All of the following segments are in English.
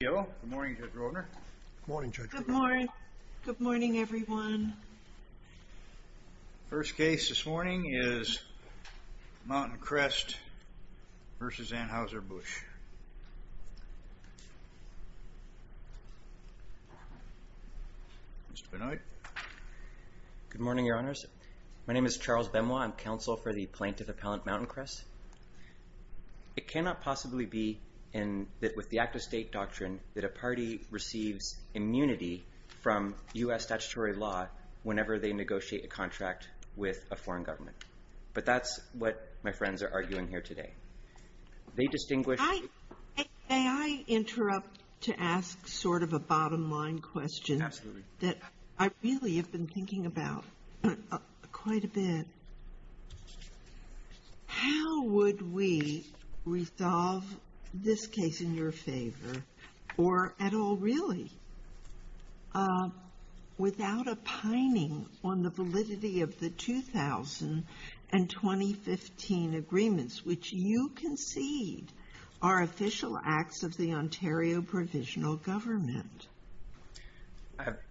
Good morning Judge Rodner. Good morning Judge Rodner. Good morning everyone. First case this morning is Mountain Crest v. Anheuser-Busch. Mr. Benoit. Good morning Your Honors. My name is Charles Benoit. I'm counsel for the plaintiff appellant Mountain Crest. It cannot possibly be in that with the act of state doctrine that a party receives immunity from U.S. statutory law whenever they negotiate a contract with a foreign government. But that's what my friends are arguing here today. They distinguish... May I interrupt to ask sort of a bottom-line question that I really have been thinking about quite a bit. How would we resolve this case in your favor or at all really without a pining on the validity of the 2000 and 2015 agreements which you concede are official acts of the Ontario Provisional Government?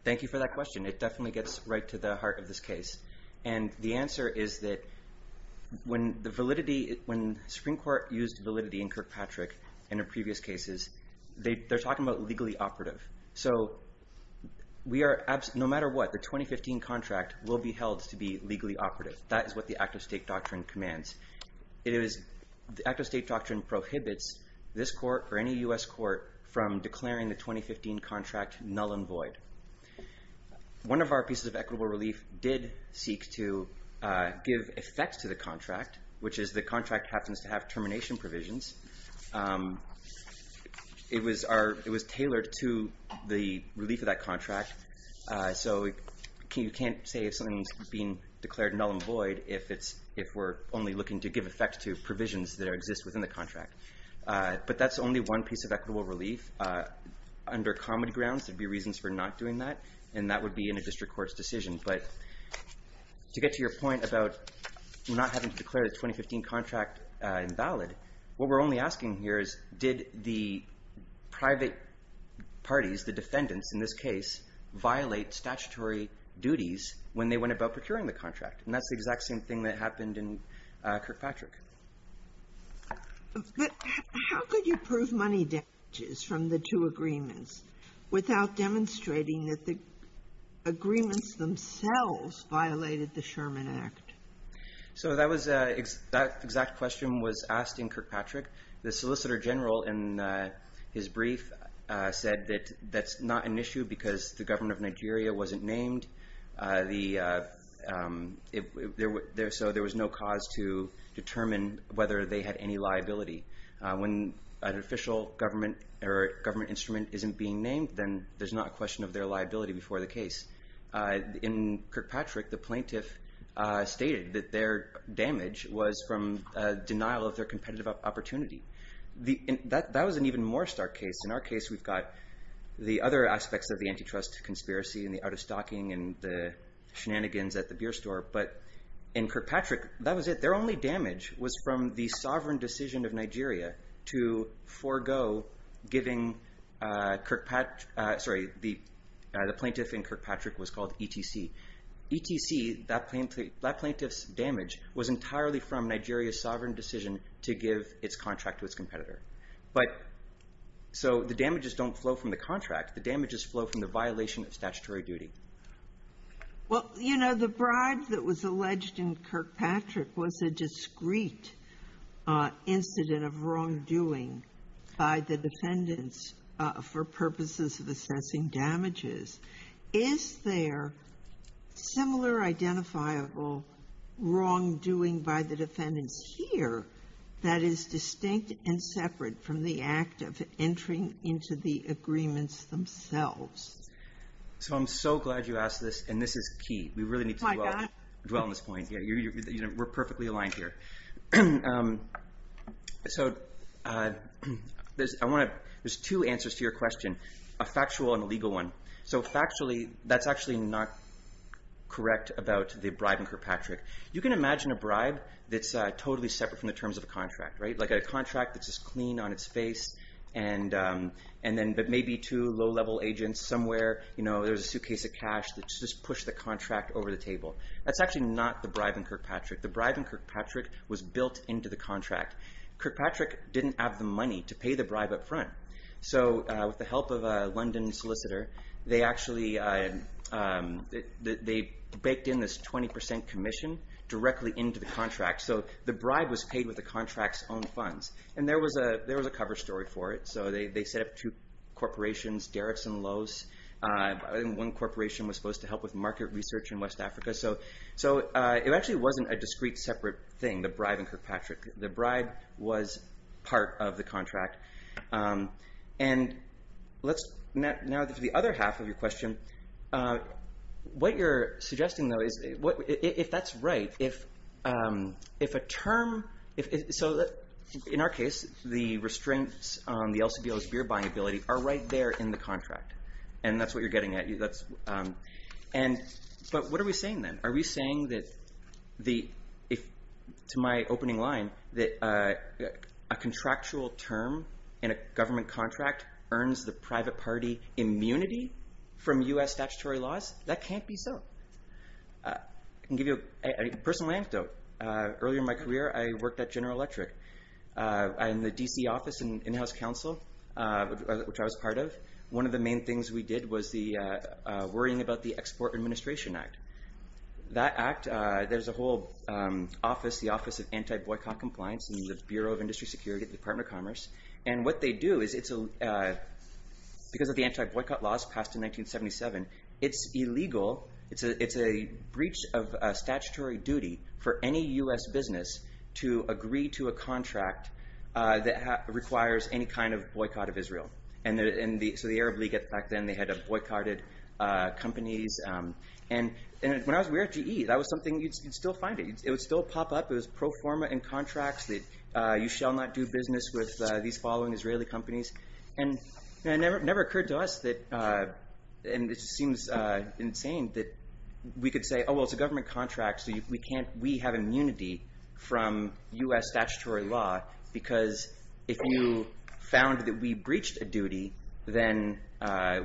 Thank you for that question. It definitely gets right to the heart of this case and the answer is that when the validity when Supreme Court used validity in Kirkpatrick and in previous cases they're talking about legally operative. So we are absent no matter what the 2015 contract will be held to be legally operative. That is what the act of state doctrine commands. It is the act of state doctrine prohibits this court or any U.S. court from declaring the 2015 contract null and void. One of our pieces of equitable relief did seek to give effects to the contract which is the contract happens to have termination provisions. It was tailored to the relief of that contract so you can't say if something's being declared null and void if it's if we're only looking to give effect to provisions that exist within the contract. But that's only one piece of equitable relief. Under common grounds there'd be reasons for not doing that and that would be in a district court's decision. But to get to your point about not having to declare the 2015 contract invalid, what we're only asking here is did the private parties, the defendants in this case, violate statutory duties when they went about procuring the contract? And that's the exact same thing that happened in Kirkpatrick. But how could you prove money damages from the two agreements without demonstrating that the agreements themselves violated the Sherman Act? So that exact question was asked in Kirkpatrick. The Solicitor General in his brief said that that's not an issue because the government of Nigeria wasn't named. So there was no cause to determine whether they had any liability. When an official government or government instrument isn't being named then there's not a question of their liability before the case. In Kirkpatrick the plaintiff stated that their damage was from denial of their competitive opportunity. That was an even more stark case. In our case we've got the other aspects of the antitrust conspiracy and the out of stocking and the shenanigans at the beer store. But in Kirkpatrick that was it. Their only damage was from the sovereign decision of Nigeria to forego giving Kirkpatrick, sorry, the TTC, that plaintiff's damage was entirely from Nigeria's sovereign decision to give its contract to its competitor. But so the damages don't flow from the contract. The damages flow from the violation of statutory duty. Well, you know, the bribe that was alleged in Kirkpatrick was a discreet incident of wrongdoing by the defendants for purposes of assessing damages. Is there similar identifiable wrongdoing by the defendants here that is distinct and separate from the act of entering into the agreements themselves? So I'm so glad you asked this and this is key. We really need to dwell on this point. We're perfectly aligned here. So there's two answers to your question. A factual and a legal one. So factually, that's actually not correct about the bribe in Kirkpatrick. You can imagine a bribe that's totally separate from the terms of a contract, right? Like a contract that's just clean on its face and then maybe two low-level agents somewhere, you know, there's a suitcase of cash that just push the contract over the table. That's actually not the bribe in Kirkpatrick. The bribe in Kirkpatrick was built into the contract. Kirkpatrick didn't have the money to pay the bribe up front. So with the help of a London solicitor, they actually baked in this 20% commission directly into the contract. So the bribe was paid with the contract's own funds. And there was a cover story for it. So they set up two corporations, Derrick's and Lowe's, and one corporation was supposed to help with market research in West Africa. So it actually wasn't a discrete separate thing, the bribe in Kirkpatrick. The bribe was part of the contract. And now to the other half of your question, what you're suggesting, though, is if that's right, if a term...so in our case, the restraints on the LCBO's beer buying ability are right there in the contract. And that's what you're suggesting. So you're suggesting, from my opening line, that a contractual term in a government contract earns the private party immunity from U.S. statutory laws? That can't be so. I can give you a personal anecdote. Earlier in my career, I worked at General Electric. I'm in the D.C. office and in-house counsel, which I was part of. One of the main things we did was the worrying about the Export Administration Act. That act, there's a whole office, the Office of Anti-Boycott Compliance in the Bureau of Industry Security at the Department of Commerce. And what they do is, because of the anti-boycott laws passed in 1977, it's illegal, it's a breach of statutory duty for any U.S. business to agree to a contract that requires any kind of boycott of Israel. So the Arab League back then, they had boycotted companies. And when I was with GE, that was something, you'd still find it. It would still pop up. It was pro forma in contracts that you shall not do business with these following Israeli companies. And it never occurred to us that, and this seems insane, that we could say, oh, well, it's a government contract, so we have immunity from U.S. statutory law. Because if you found that we breached a duty, then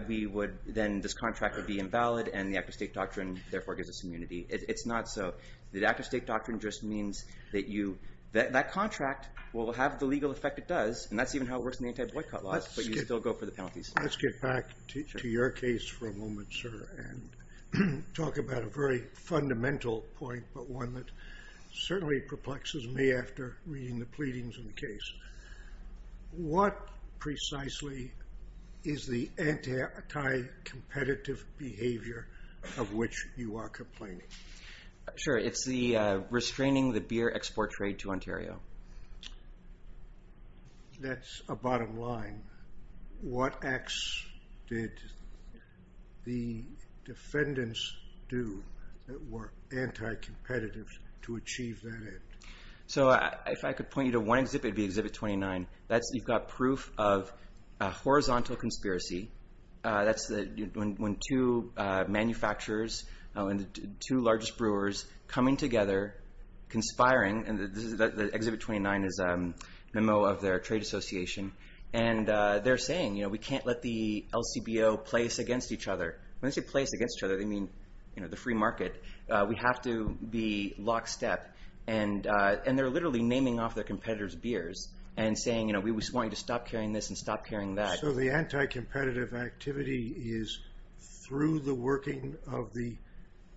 this contract would be invalid, and the active state doctrine, therefore, gives us immunity. It's not so. The active state doctrine just means that that contract will have the legal effect it does, and that's even how it works in the anti-boycott laws, but you still go for the penalties. Let's get back to your case for a moment, sir, and talk about a very fundamental point, but one that certainly perplexes me after reading the pleadings in the case. What precisely is the anti-competitive behavior of which you are complaining? Sure. It's the restraining the beer export trade to Ontario. That's a bottom line. What acts did the defendants do that were anti-competitive to achieve that end? If I could point you to one exhibit, it would be Exhibit 29. You've got proof of a horizontal conspiracy. That's when two manufacturers and the two largest brewers coming together, conspiring, and Exhibit 29 is a memo of their trade association, and they're saying, we can't let the LCBO place against each other. When they say place against each other, they mean the free market. We have to be lockstep, and they're literally naming off their competitors' beers and saying, we just want you to stop carrying this and stop carrying that. So the anti-competitive activity is through the working of the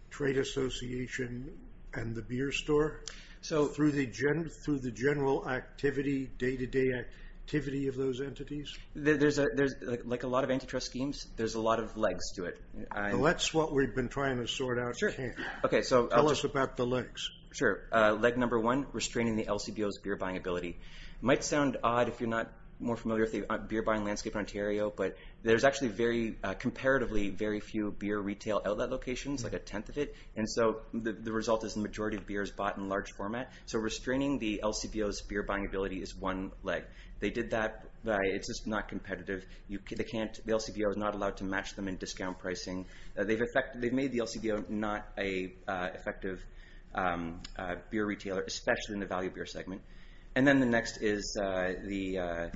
trade association and the beer store? Through the general activity, day-to-day activity of those entities? There's a lot of antitrust schemes. There's a lot of legs to it. That's what we've been trying to sort out here. Tell us about the legs. Sure. Leg number one, restraining the LCBO's beer buying ability. It might sound odd if you're not more familiar with the beer buying landscape in Ontario, but there's actually comparatively very few beer retail outlet locations, like a tenth of it, and so the result is the majority of beers bought in large format. So restraining the LCBO's beer buying ability is one leg. They did that. It's just not competitive. The LCBO is not allowed to match them in discount pricing. They've made the LCBO not an effective beer retailer, especially in the value beer segment. And then the next is the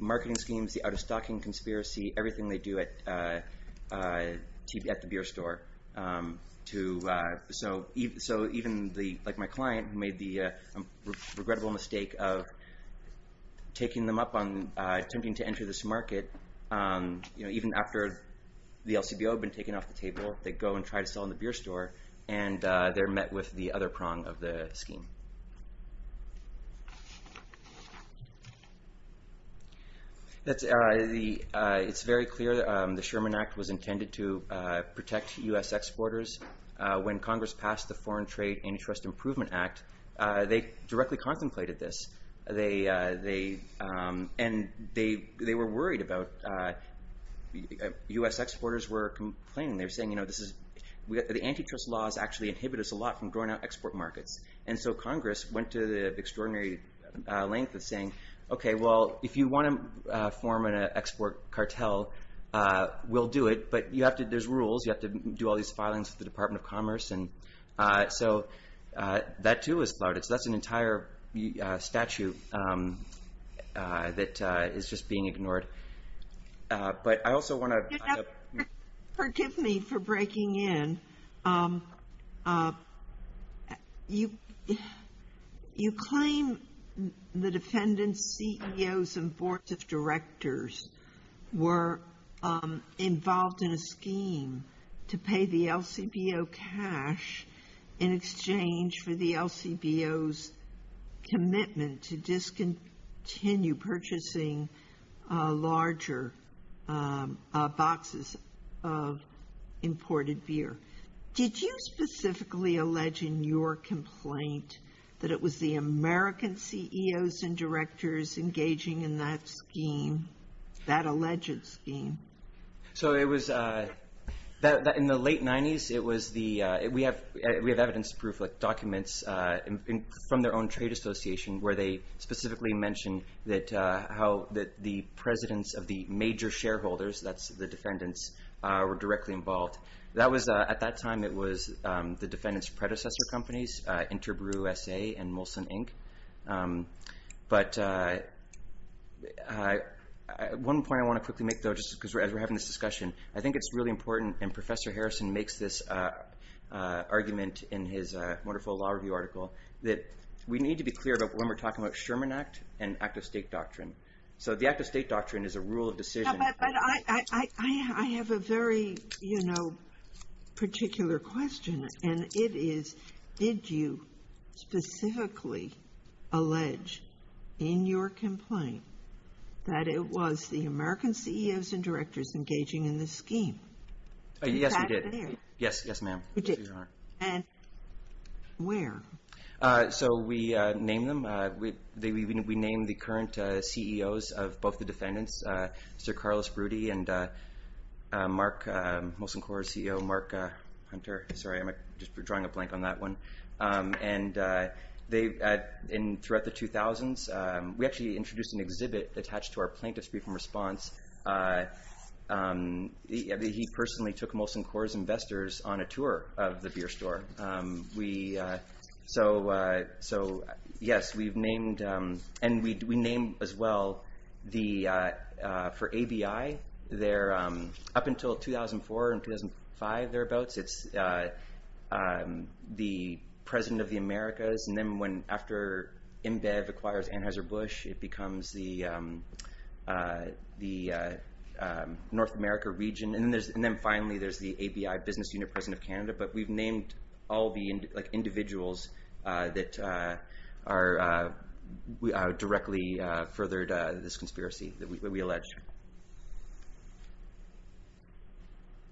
marketing schemes, the out-of-stocking conspiracy, everything they do at the beer store. So even my client made the regrettable mistake of taking them up on attempting to enter this market, even after the LCBO had been taken off the table, they go and try to sell in the beer store, and they're met with the other prong of the scheme. It's very clear the Sherman Act was intended to protect U.S. exporters. When Congress passed the Foreign Trade Antitrust Improvement Act, they directly contemplated this, and they were worried about... U.S. exporters were complaining. They were saying, you know, the antitrust laws actually inhibit us a lot from growing our export markets. And so Congress went to the extraordinary length of saying, okay, well, if you want to form an export cartel, we'll do it, but there's rules. You have to do all these filings with the Department of Commerce. And so that, too, was flouted. So that's an entire statute that is just being ignored. But I also want to... Forgive me for breaking in. You claim the defendants, CEOs, and boards of directors were involved in a scheme to pay the LCBO cash in exchange for the LCBO's commitment to discontinue purchasing larger boxes of imported beer. Did you specifically allege in your complaint that it was the American CEOs and directors engaging in that scheme, that alleged scheme? So it was... In the late 90s, it was the... We have evidence-proof documents from their own trade association where they specifically mention that the presidents of the major shareholders, that's the defendants, were directly involved. That was... At that time, it was the defendants' predecessor companies, Interbrew SA and Molson Inc. But one point I want to quickly make, though, just because as we're having this discussion, I think it's really important, and Professor Harrison makes this argument in his wonderful law review article, that we need to be clear about when we're talking about Sherman Act and act-of-state doctrine. So the act-of-state doctrine is a rule of decision. But I have a very particular question, and it is, did you specifically allege in your complaint that it was the American CEOs and directors engaging in this scheme? Yes, we did. Yes, ma'am. And where? So we named them. We named the current CEOs of both the defendants, Sir Carlos Broody and Mark... Molson Corp's CEO, Mark Hunter. Sorry, I'm just drawing a blank on that one. And throughout the 2000s, we actually introduced an exhibit attached to our plaintiff's brief response. He personally took Molson Corp's investors on a tour of the beer store. We... So yes, we've named... And we named as well the... For ABI, up until 2004 and 2005, thereabouts, it's the President of the Americas. And then after IMBEV acquires Anheuser-Busch, it becomes the North America region. And then finally, there's the ABI Business Unit President of Canada. But we've named all the individuals that are... Directly furthered this conspiracy that we allege.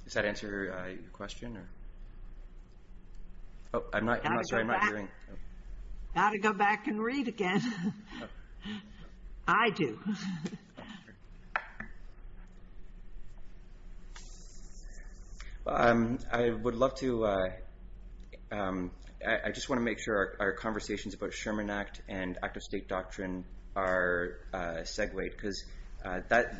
Does that answer your question? Oh, I'm not... Sorry, I'm not hearing. Got to go back and read again. I do. I would love to... I just want to make sure our conversations about Sherman Act and Act of State Doctrine are segued, because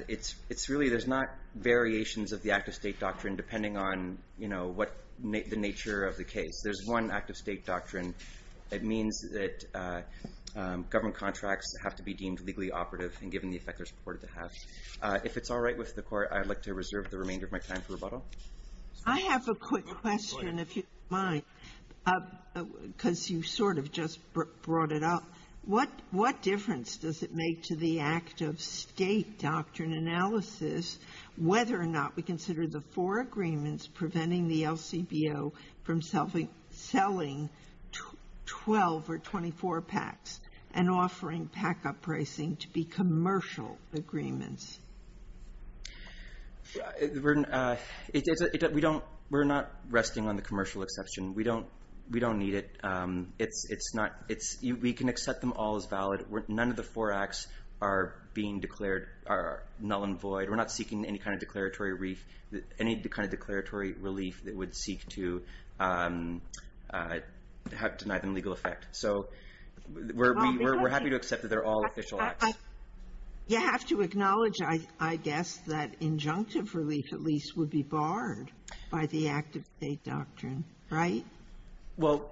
it's really... There's not variations of the Act of State Doctrine depending on what the nature of the case. There's one Act of State Doctrine that means that government contracts have to be deemed legally operative and given the effect they're supported to have. If it's all right with the court, I'd like to reserve the remainder of my time for rebuttal. I have a quick question, if you don't mind, because you sort of just brought it up. What difference does it make to the Act of State Doctrine analysis whether or not we consider the four agreements preventing the LCBO from selling 12 or 24 PACs and offering PAC up-pricing to be We're not resting on the commercial exception. We don't need it. We can accept them all as valid. None of the four acts are being declared null and void. We're not seeking any kind of declaratory relief that would seek to deny them legal effect. So we're happy to accept that they're all official acts. You have to acknowledge, I guess, that injunctive relief at least would be barred. By the Act of State Doctrine, right? Well,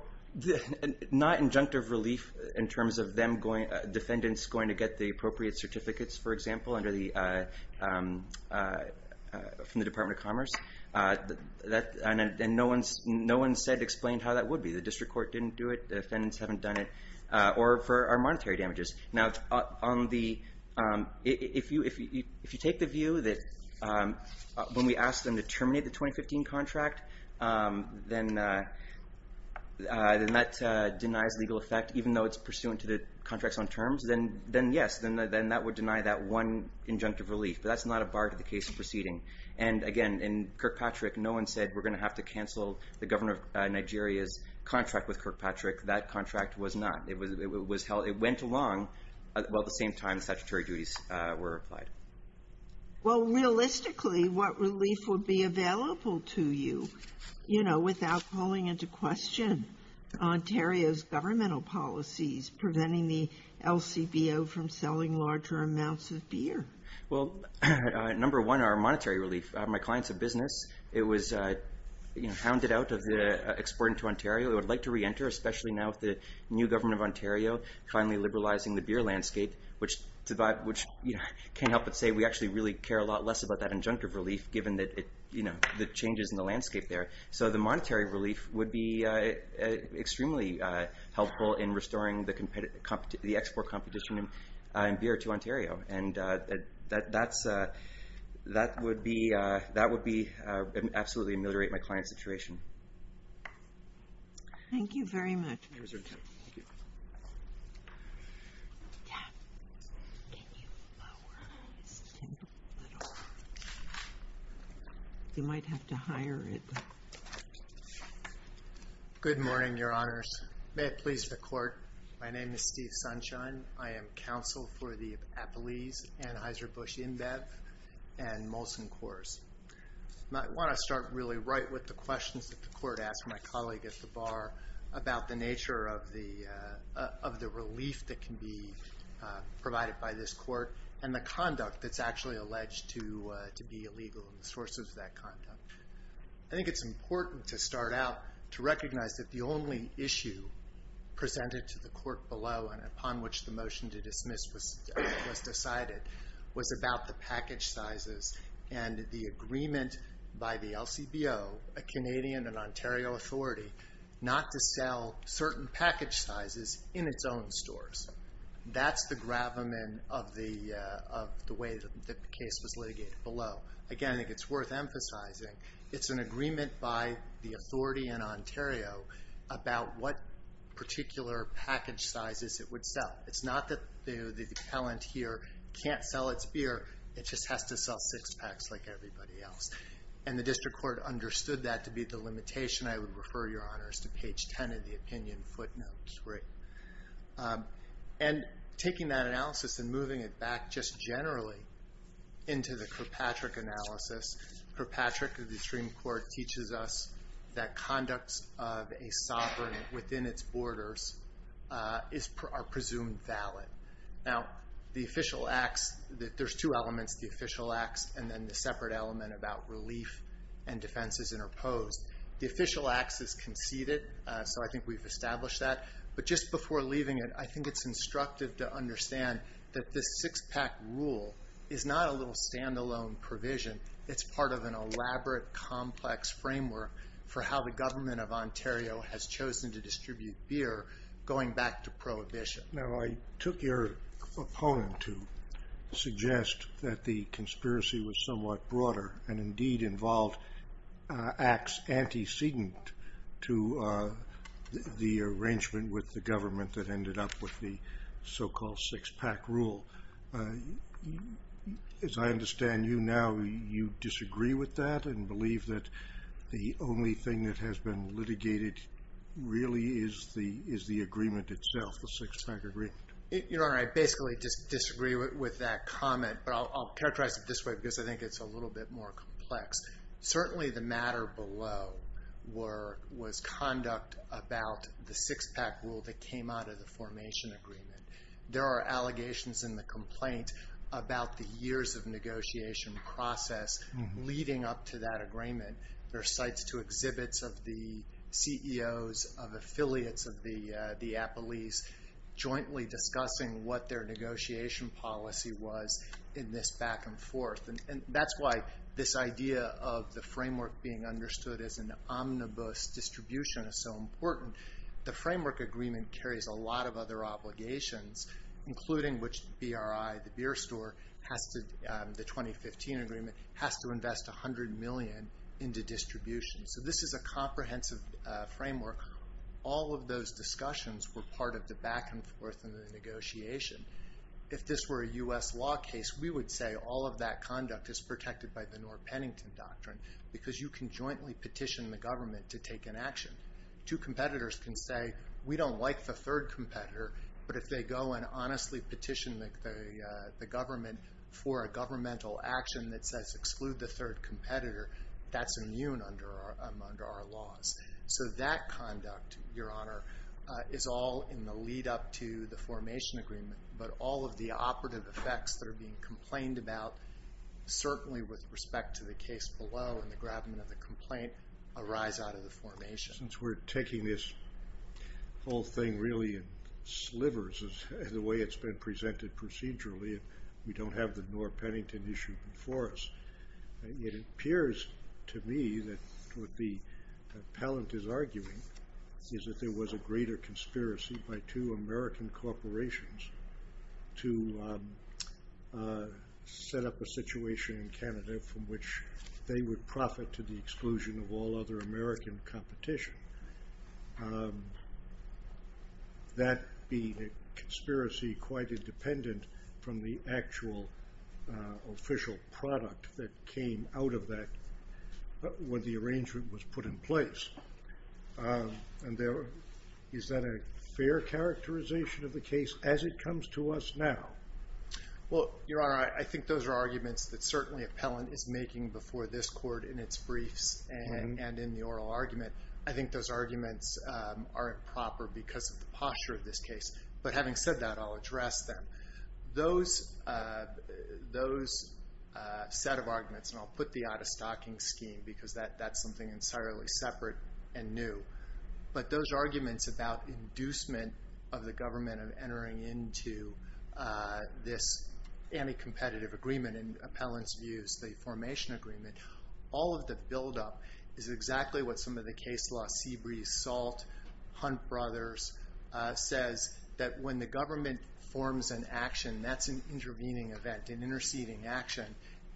not injunctive relief in terms of them going, defendants going to get the appropriate certificates, for example, under the, from the Department of Commerce. That, and no one said explained how that would be. The district court didn't do it. The defendants haven't done it. Or for our monetary damages. Now, if you take the view that when we ask them to terminate the 2015 contract, then that denies legal effect even though it's pursuant to the contracts on terms, then yes, then that would deny that one injunctive relief. But that's not a bar to the case proceeding. And again, in Kirkpatrick, no one said we're going to have to cancel the governor of Nigeria's contract with Kirkpatrick. That contract was not. It was, it was held, it went along while at the same time statutory duties were applied. Well, realistically, what relief would be available to you, you know, without calling into question Ontario's governmental policies preventing the LCBO from selling larger amounts of beer? Well, number one, our monetary relief. My client's a business. It was, you know, hounded out of the exporting to Ontario. I'd like to re-enter, especially now with the new government of Ontario finally liberalizing the beer landscape, which, you know, can't help but say we actually really care a lot less about that injunctive relief given that, you know, the changes in the landscape there. So the monetary relief would be extremely helpful in restoring the export competition in beer to Ontario. And that would absolutely ameliorate my client's situation. Thank you very much. Thank you. You might have to hire it. Good morning, Your Honours. May it please the Court. My name is Steve Sunshine. I am counsel for the Appalese, Anheuser-Busch InBev, and Molson Corps. And I want to start really right with the questions that the Court asked my colleague at the bar about the nature of the relief that can be provided by this Court and the conduct that's actually alleged to be illegal and the sources of that conduct. I think it's important to start out to recognize that the only issue presented to the Court below and upon which the motion to dismiss was decided was about the package sizes and the agreement by the LCBO, a Canadian and Ontario authority, not to sell certain package sizes in its own stores. That's the gravamen of the way that the case was litigated below. Again, I think it's worth emphasizing. It's an agreement by the authority in Ontario about what particular package sizes it would sell. It's not that the appellant here can't sell its beer. It just has to sell six packs like everybody else. And the District Court understood that to be the limitation. I would refer, Your Honours, to page 10 of the opinion footnotes. And taking that analysis and moving it back just generally into the Kirkpatrick analysis, Kirkpatrick of the Supreme Court teaches us that conducts of a sovereign within its borders is presumed valid. Now, there's two elements, the official acts and then the separate element about relief and defenses interposed. The official acts is conceded, so I think we've established that. But just before leaving it, I think it's instructive to understand that this six-pack rule is not a little standalone provision. It's part of an elaborate, complex framework for how the government of Ontario has chosen to distribute beer, going back to Prohibition. Now, I took your opponent to suggest that the conspiracy was somewhat broader and indeed involved acts antecedent to the arrangement with the government that ended up with the so-called six-pack rule. As I understand you now, you disagree with that and believe that the only thing that really is the agreement itself, the six-pack agreement. Your Honor, I basically disagree with that comment, but I'll characterize it this way because I think it's a little bit more complex. Certainly, the matter below was conduct about the six-pack rule that came out of the formation agreement. There are allegations in the complaint about the years of negotiation process leading up to that agreement. There are sites to exhibits of the CEOs of affiliates of the Appleys jointly discussing what their negotiation policy was in this back and forth. That's why this idea of the framework being understood as an omnibus distribution is so important. The framework agreement carries a lot of other obligations, including which BRI, the beer agreement, has to invest $100 million into distribution. This is a comprehensive framework. All of those discussions were part of the back and forth in the negotiation. If this were a U.S. law case, we would say all of that conduct is protected by the North Pennington Doctrine because you can jointly petition the government to take an action. Two competitors can say, we don't like the third competitor, but if they go and honestly petition the government for a governmental action that says exclude the third competitor, that's immune under our laws. So that conduct, Your Honor, is all in the lead up to the formation agreement. But all of the operative effects that are being complained about, certainly with respect to the case below and the grabbing of the complaint, arise out of the formation. Since we're taking this whole thing really in slivers as the way it's been presented procedurally, and we don't have the North Pennington issue before us, it appears to me that what the appellant is arguing is that there was a greater conspiracy by two American corporations to set up a situation in Canada from which they would profit to the exclusion of all other American competition. That being a conspiracy quite independent from the actual official product that came out of that when the arrangement was put in place. And is that a fair characterization of the case as it comes to us now? Well, Your Honor, I think those are arguments that certainly appellant is making before this court in its briefs and in the oral argument. I think those arguments aren't proper because of the posture of this case. But having said that, I'll address them. Those set of arguments, and I'll put the out-of-stocking scheme because that's something entirely separate and new, but those arguments about inducement of the government of entering into this anti-competitive agreement in appellant's views, the formation agreement, all of the buildup is exactly what some of the case law, Seabreeze Salt, Hunt Brothers, says that when the government forms an action, that's an intervening event, an interceding action,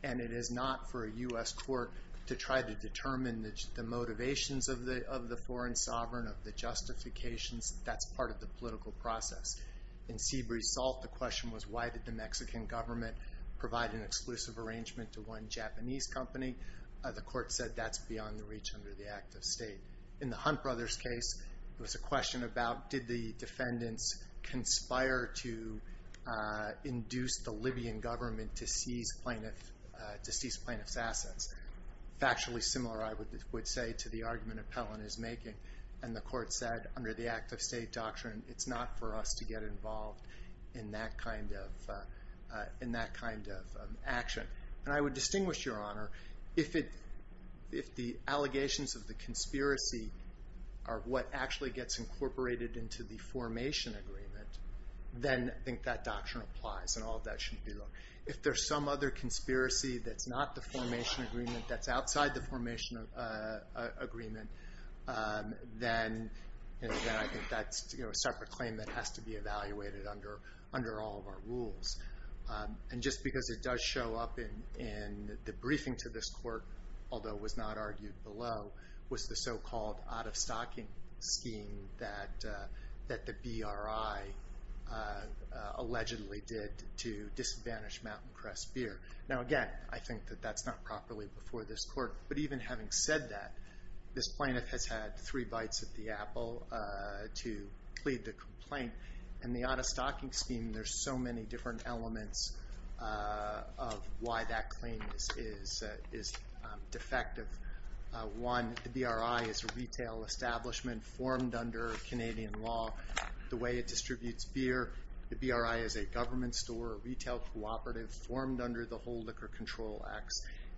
and it is not for a U.S. court to try to determine the motivations of the foreign sovereign, of the justifications. That's part of the political process. In Seabreeze Salt, the question was why did the Mexican government provide an exclusive arrangement to one Japanese company? The court said that's beyond the reach under the act of state. In the Hunt Brothers case, it was a question about did the defendants conspire to induce the Libyan government to seize plaintiff's assets? Factually similar, I would say, to the argument appellant is making. And the court said under the act of state doctrine, it's not for us to get involved in that kind of action. And I would distinguish, your honor, if the allegations of the conspiracy are what actually gets incorporated into the formation agreement, then I think that doctrine applies and all of that shouldn't be wrong. If there's some other conspiracy that's not the formation agreement, that's outside the formation agreement, then I think that's a separate claim that has to be evaluated under all of our rules. And just because it does show up in the briefing to this court, although it was not argued below, was the so-called out-of-stocking scheme that the BRI allegedly did to disadvantage Mountain Crest Beer. Now again, I think that that's not properly before this court. But even having said that, this plaintiff has had three bites at the apple to plead the complaint. In the out-of-stocking scheme, there's so many different elements of why that claim is defective. One, the BRI is a retail establishment formed under Canadian law. The way it distributes beer, the BRI is a government store, a retail cooperative formed under the Whole Liquor Control Act,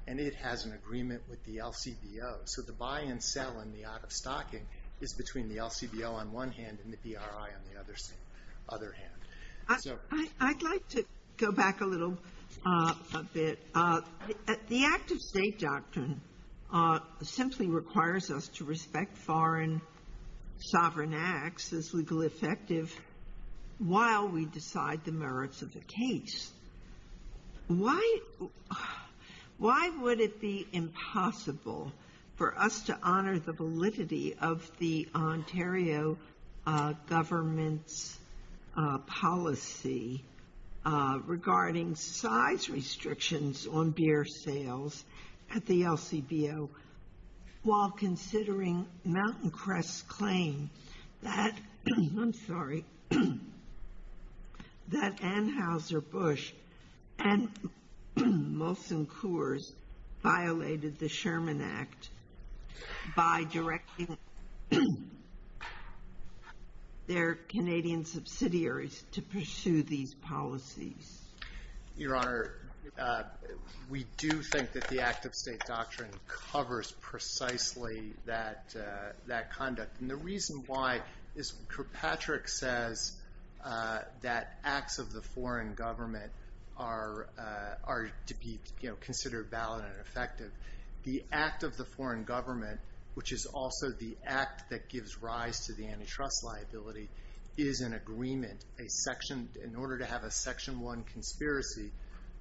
and it has an agreement with the LCBO. So the buy and sell in the out-of-stocking is between the LCBO on one hand and the BRI on the other hand. So. I'd like to go back a little bit. The active state doctrine simply requires us to respect foreign sovereign acts as legally effective while we decide the merits of the case. Why would it be impossible for us to honor the validity of the Ontario government's policy regarding size restrictions on beer sales at the LCBO while considering Mountain Bush and Molson Coors violated the Sherman Act by directing their Canadian subsidiaries to pursue these policies? Your Honor, we do think that the active state doctrine covers precisely that conduct. And the reason why is Kirkpatrick says that acts of the foreign government are to be considered valid and effective. The act of the foreign government, which is also the act that gives rise to the antitrust liability, is an agreement. In order to have a Section 1 conspiracy,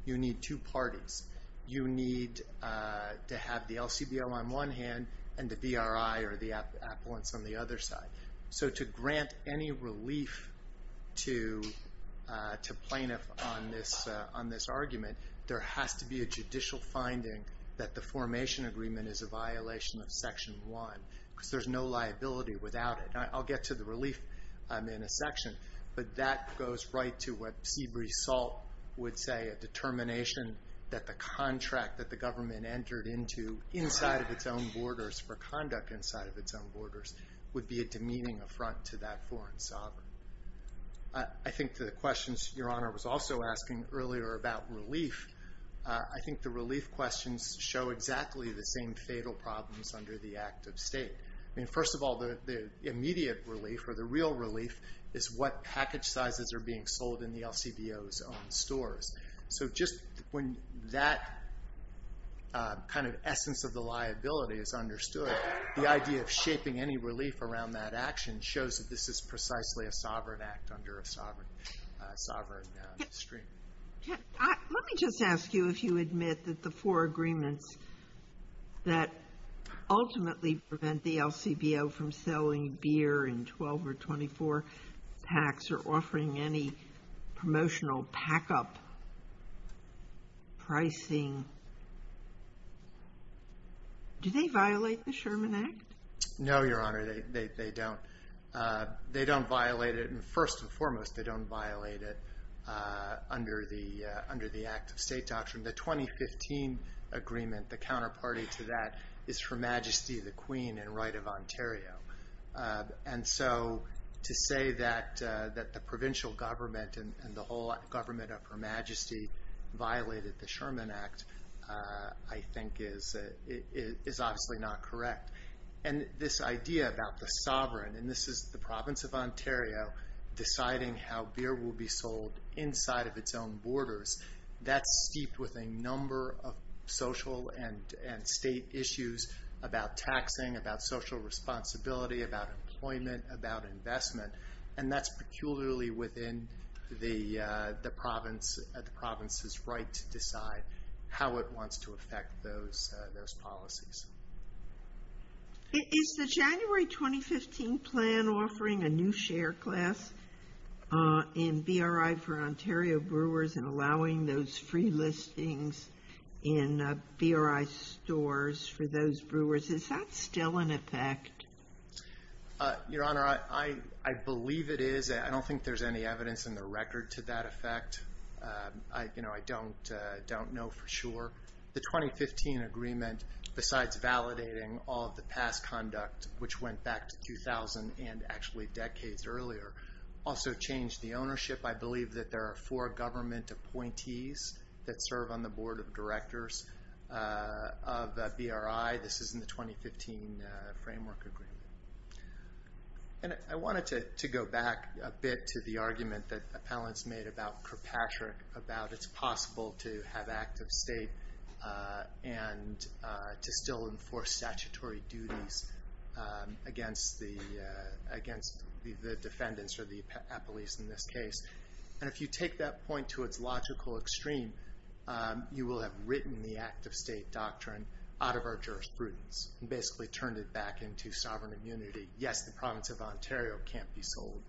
you need two parties. You need to have the LCBO on one hand and the BRI or the appellants on the other side. So to grant any relief to plaintiff on this argument, there has to be a judicial finding that the formation agreement is a violation of Section 1. Because there's no liability without it. I'll get to the relief in a section. But that goes right to what Seabreeze Salt would say, a determination that the contract that the government entered into inside of its own borders for conduct inside of its own borders would be a demeaning affront to that foreign sovereign. I think the questions Your Honor was also asking earlier about relief, I think the relief questions show exactly the same fatal problems under the act of state. First of all, the immediate relief or the real relief is what package sizes are being sold in the LCBO's own stores. So just when that kind of essence of the liability is understood, the idea of shaping any relief around that action shows that this is precisely a sovereign act under a sovereign stream. Let me just ask you if you admit that the four agreements that ultimately prevent the LCBO from selling beer in 12 or 24 packs or offering any promotional pack-up pricing, do they violate the Sherman Act? No, Your Honor, they don't. They don't violate it. First and foremost, they don't violate it under the act of state doctrine. The 2015 agreement, the counterparty to that is Her Majesty the Queen and Right of Ontario. And so to say that the provincial government and the whole government of Her Majesty violated the Sherman Act, I think is obviously not correct. And this idea about the sovereign, and this is the province of Ontario deciding how beer will be sold inside of its own borders, that's steeped with a number of social and state issues about taxing, about social responsibility, about employment, about investment, and that's peculiarly within the province's right to decide how it wants to affect those policies. Is the January 2015 plan offering a new share class in BRI for Ontario brewers and allowing those free listings in BRI stores for those brewers, is that still in effect? Your Honor, I believe it is. I don't think there's any evidence in the record to that effect. I don't know for sure. The 2015 agreement, besides validating all of the past conduct, which went back to 2000 and actually decades earlier, also changed the ownership. I believe that there are four government appointees that serve on the board of directors of BRI. This is in the 2015 framework agreement. And I wanted to go back a bit to the argument that appellants made about Kirkpatrick, about it's possible to have active state and to still enforce statutory duties against the defendants or the appellees in this case. And if you take that point to its logical extreme, you will have written the active state doctrine out of our jurisprudence and basically turned it back into sovereign immunity. Yes, the province of Ontario can't be sold.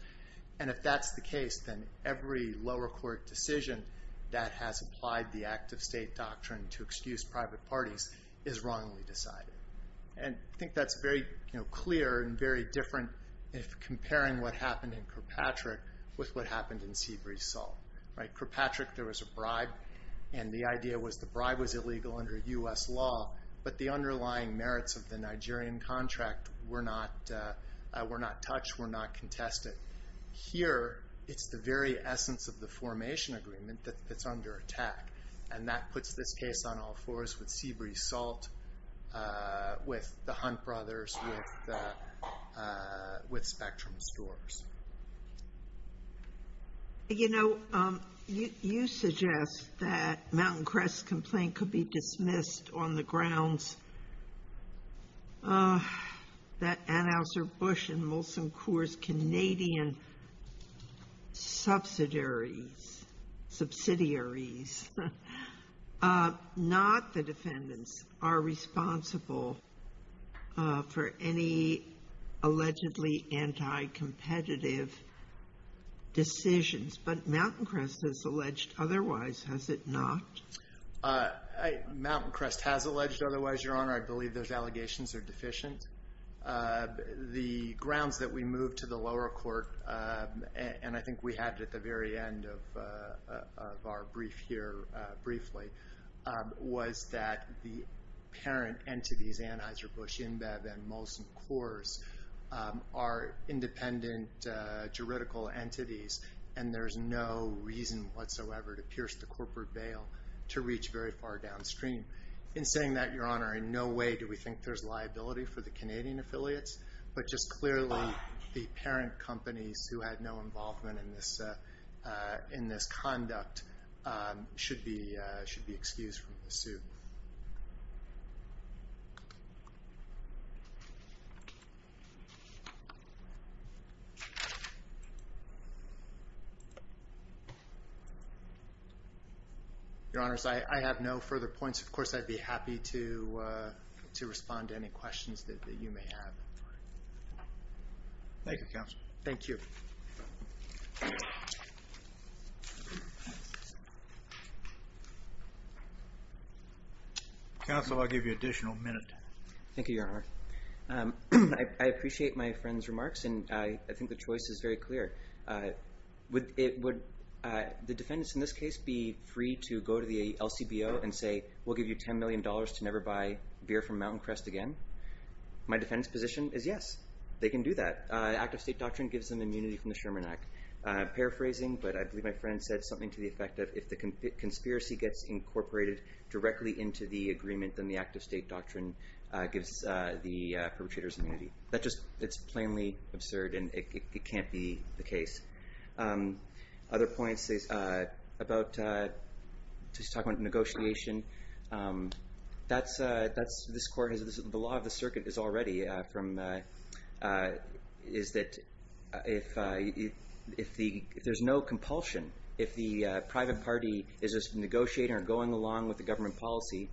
And if that's the case, then every lower court decision that has applied the active state doctrine to excuse private parties is wrongly decided. And I think that's very clear and very different if comparing what happened in Kirkpatrick with what happened in Seabreeze Salt. Kirkpatrick, there was a bribe, and the idea was the bribe was illegal under U.S. law, but the underlying merits of the Nigerian contract were not touched, were not contested. Here, it's the very essence of the formation agreement that's under attack. And that puts this case on all fours with Seabreeze Salt, with the Hunt brothers, with Spectrum stores. You know, you suggest that Mountain Crest's complaint could be dismissed on the grounds that Anhauser-Busch and Molson Coors' Canadian subsidiaries, not the defendants, are responsible for any allegedly anti-competitive decisions. But Mountain Crest has alleged otherwise, has it not? Mountain Crest has alleged otherwise, Your Honor. I believe those allegations are deficient. The grounds that we moved to the lower court, and I think we had it at the very end of our brief here briefly, was that the parent entities, Anhauser-Busch, InBev, and Molson Coors, are independent juridical entities, and there's no reason whatsoever to pierce the corporate bail. To reach very far downstream. In saying that, Your Honor, in no way do we think there's liability for the Canadian affiliates. But just clearly, the parent companies who had no involvement in this conduct have no liability for this. Your Honors, I have no further points. Of course, I'd be happy to respond to any questions that you may have. Thank you, Counselor. Thank you. Counsel, I'll give you an additional minute. Thank you, Your Honor. I appreciate my friend's remarks, and I think the choice is very clear. Would the defendants in this case be free to go to the LCBO and say, we'll give you $10 million to never buy beer from Mountain Crest again? My defendant's position is yes. They can do that. Active State Doctrine gives them immunity from the Sherman Act. Paraphrasing, but I believe my friend said something to the effect of, if the conspiracy gets incorporated directly into the agreement, then the Active State Doctrine gives the perpetrators immunity. That just, it's plainly absurd, and it can't be the case. Other points about, just talking about negotiation, the law of the circuit is already from, is that if there's no compulsion, if the private party is just negotiating or going along with the government policy,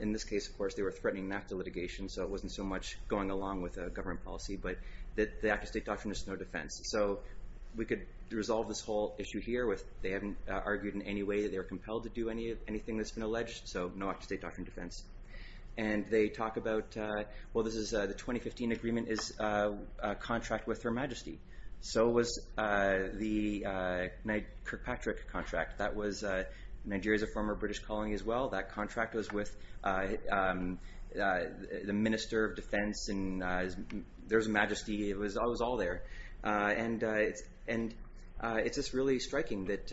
in this case, of course, they were threatening an act of litigation, so it wasn't so much going along with a government policy, but the Active State Doctrine is no defense. So we could resolve this whole issue here with, they haven't argued in any way that they're compelled to do anything that's been alleged, so no Active State Doctrine defense. And they talk about, well, this is the 2015 agreement is a contract with Her Majesty. So was the Kirkpatrick contract. That was, Nigeria's a former British colony as well. That contract was with the Minister of Defense, and there was a majesty, it was all there. And it's just really striking that,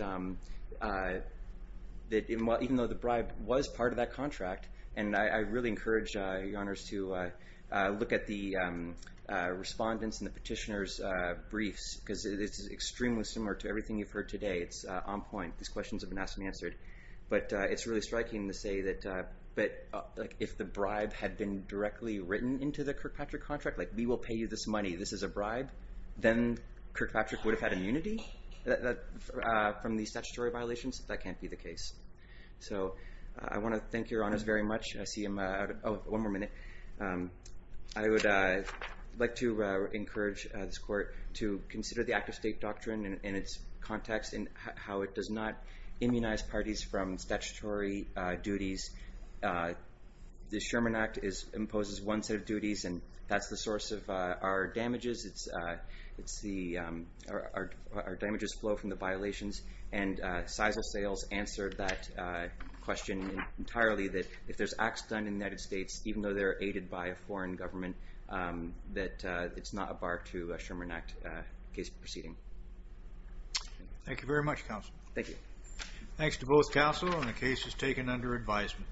even though the bribe was part of that contract, and I really encourage Your Honours to look at the respondents and the petitioner's briefs, because it's extremely similar to everything you've heard today. It's on point. These questions have been asked and answered. But it's really striking to say that, but if the bribe had been directly written into the Kirkpatrick contract, like, we will pay you this money, this is a bribe, then Kirkpatrick would have had immunity from these statutory violations. That can't be the case. So I want to thank Your Honours very much. I see I'm out of, oh, one more minute. I would like to encourage this Court to consider the Act of State Doctrine and its context and how it does not immunize parties from statutory duties. The Sherman Act imposes one set of duties, and that's the source of our damages. It's the, our damages flow from the violations. And Sizzle Sales answered that question entirely, that if there's acts done in the United States, even though they're aided by a foreign government, that it's not a bar to a Sherman Act case proceeding. Thank you very much, counsel. Thank you. Thanks to both counsel, and the case is taken under advisement.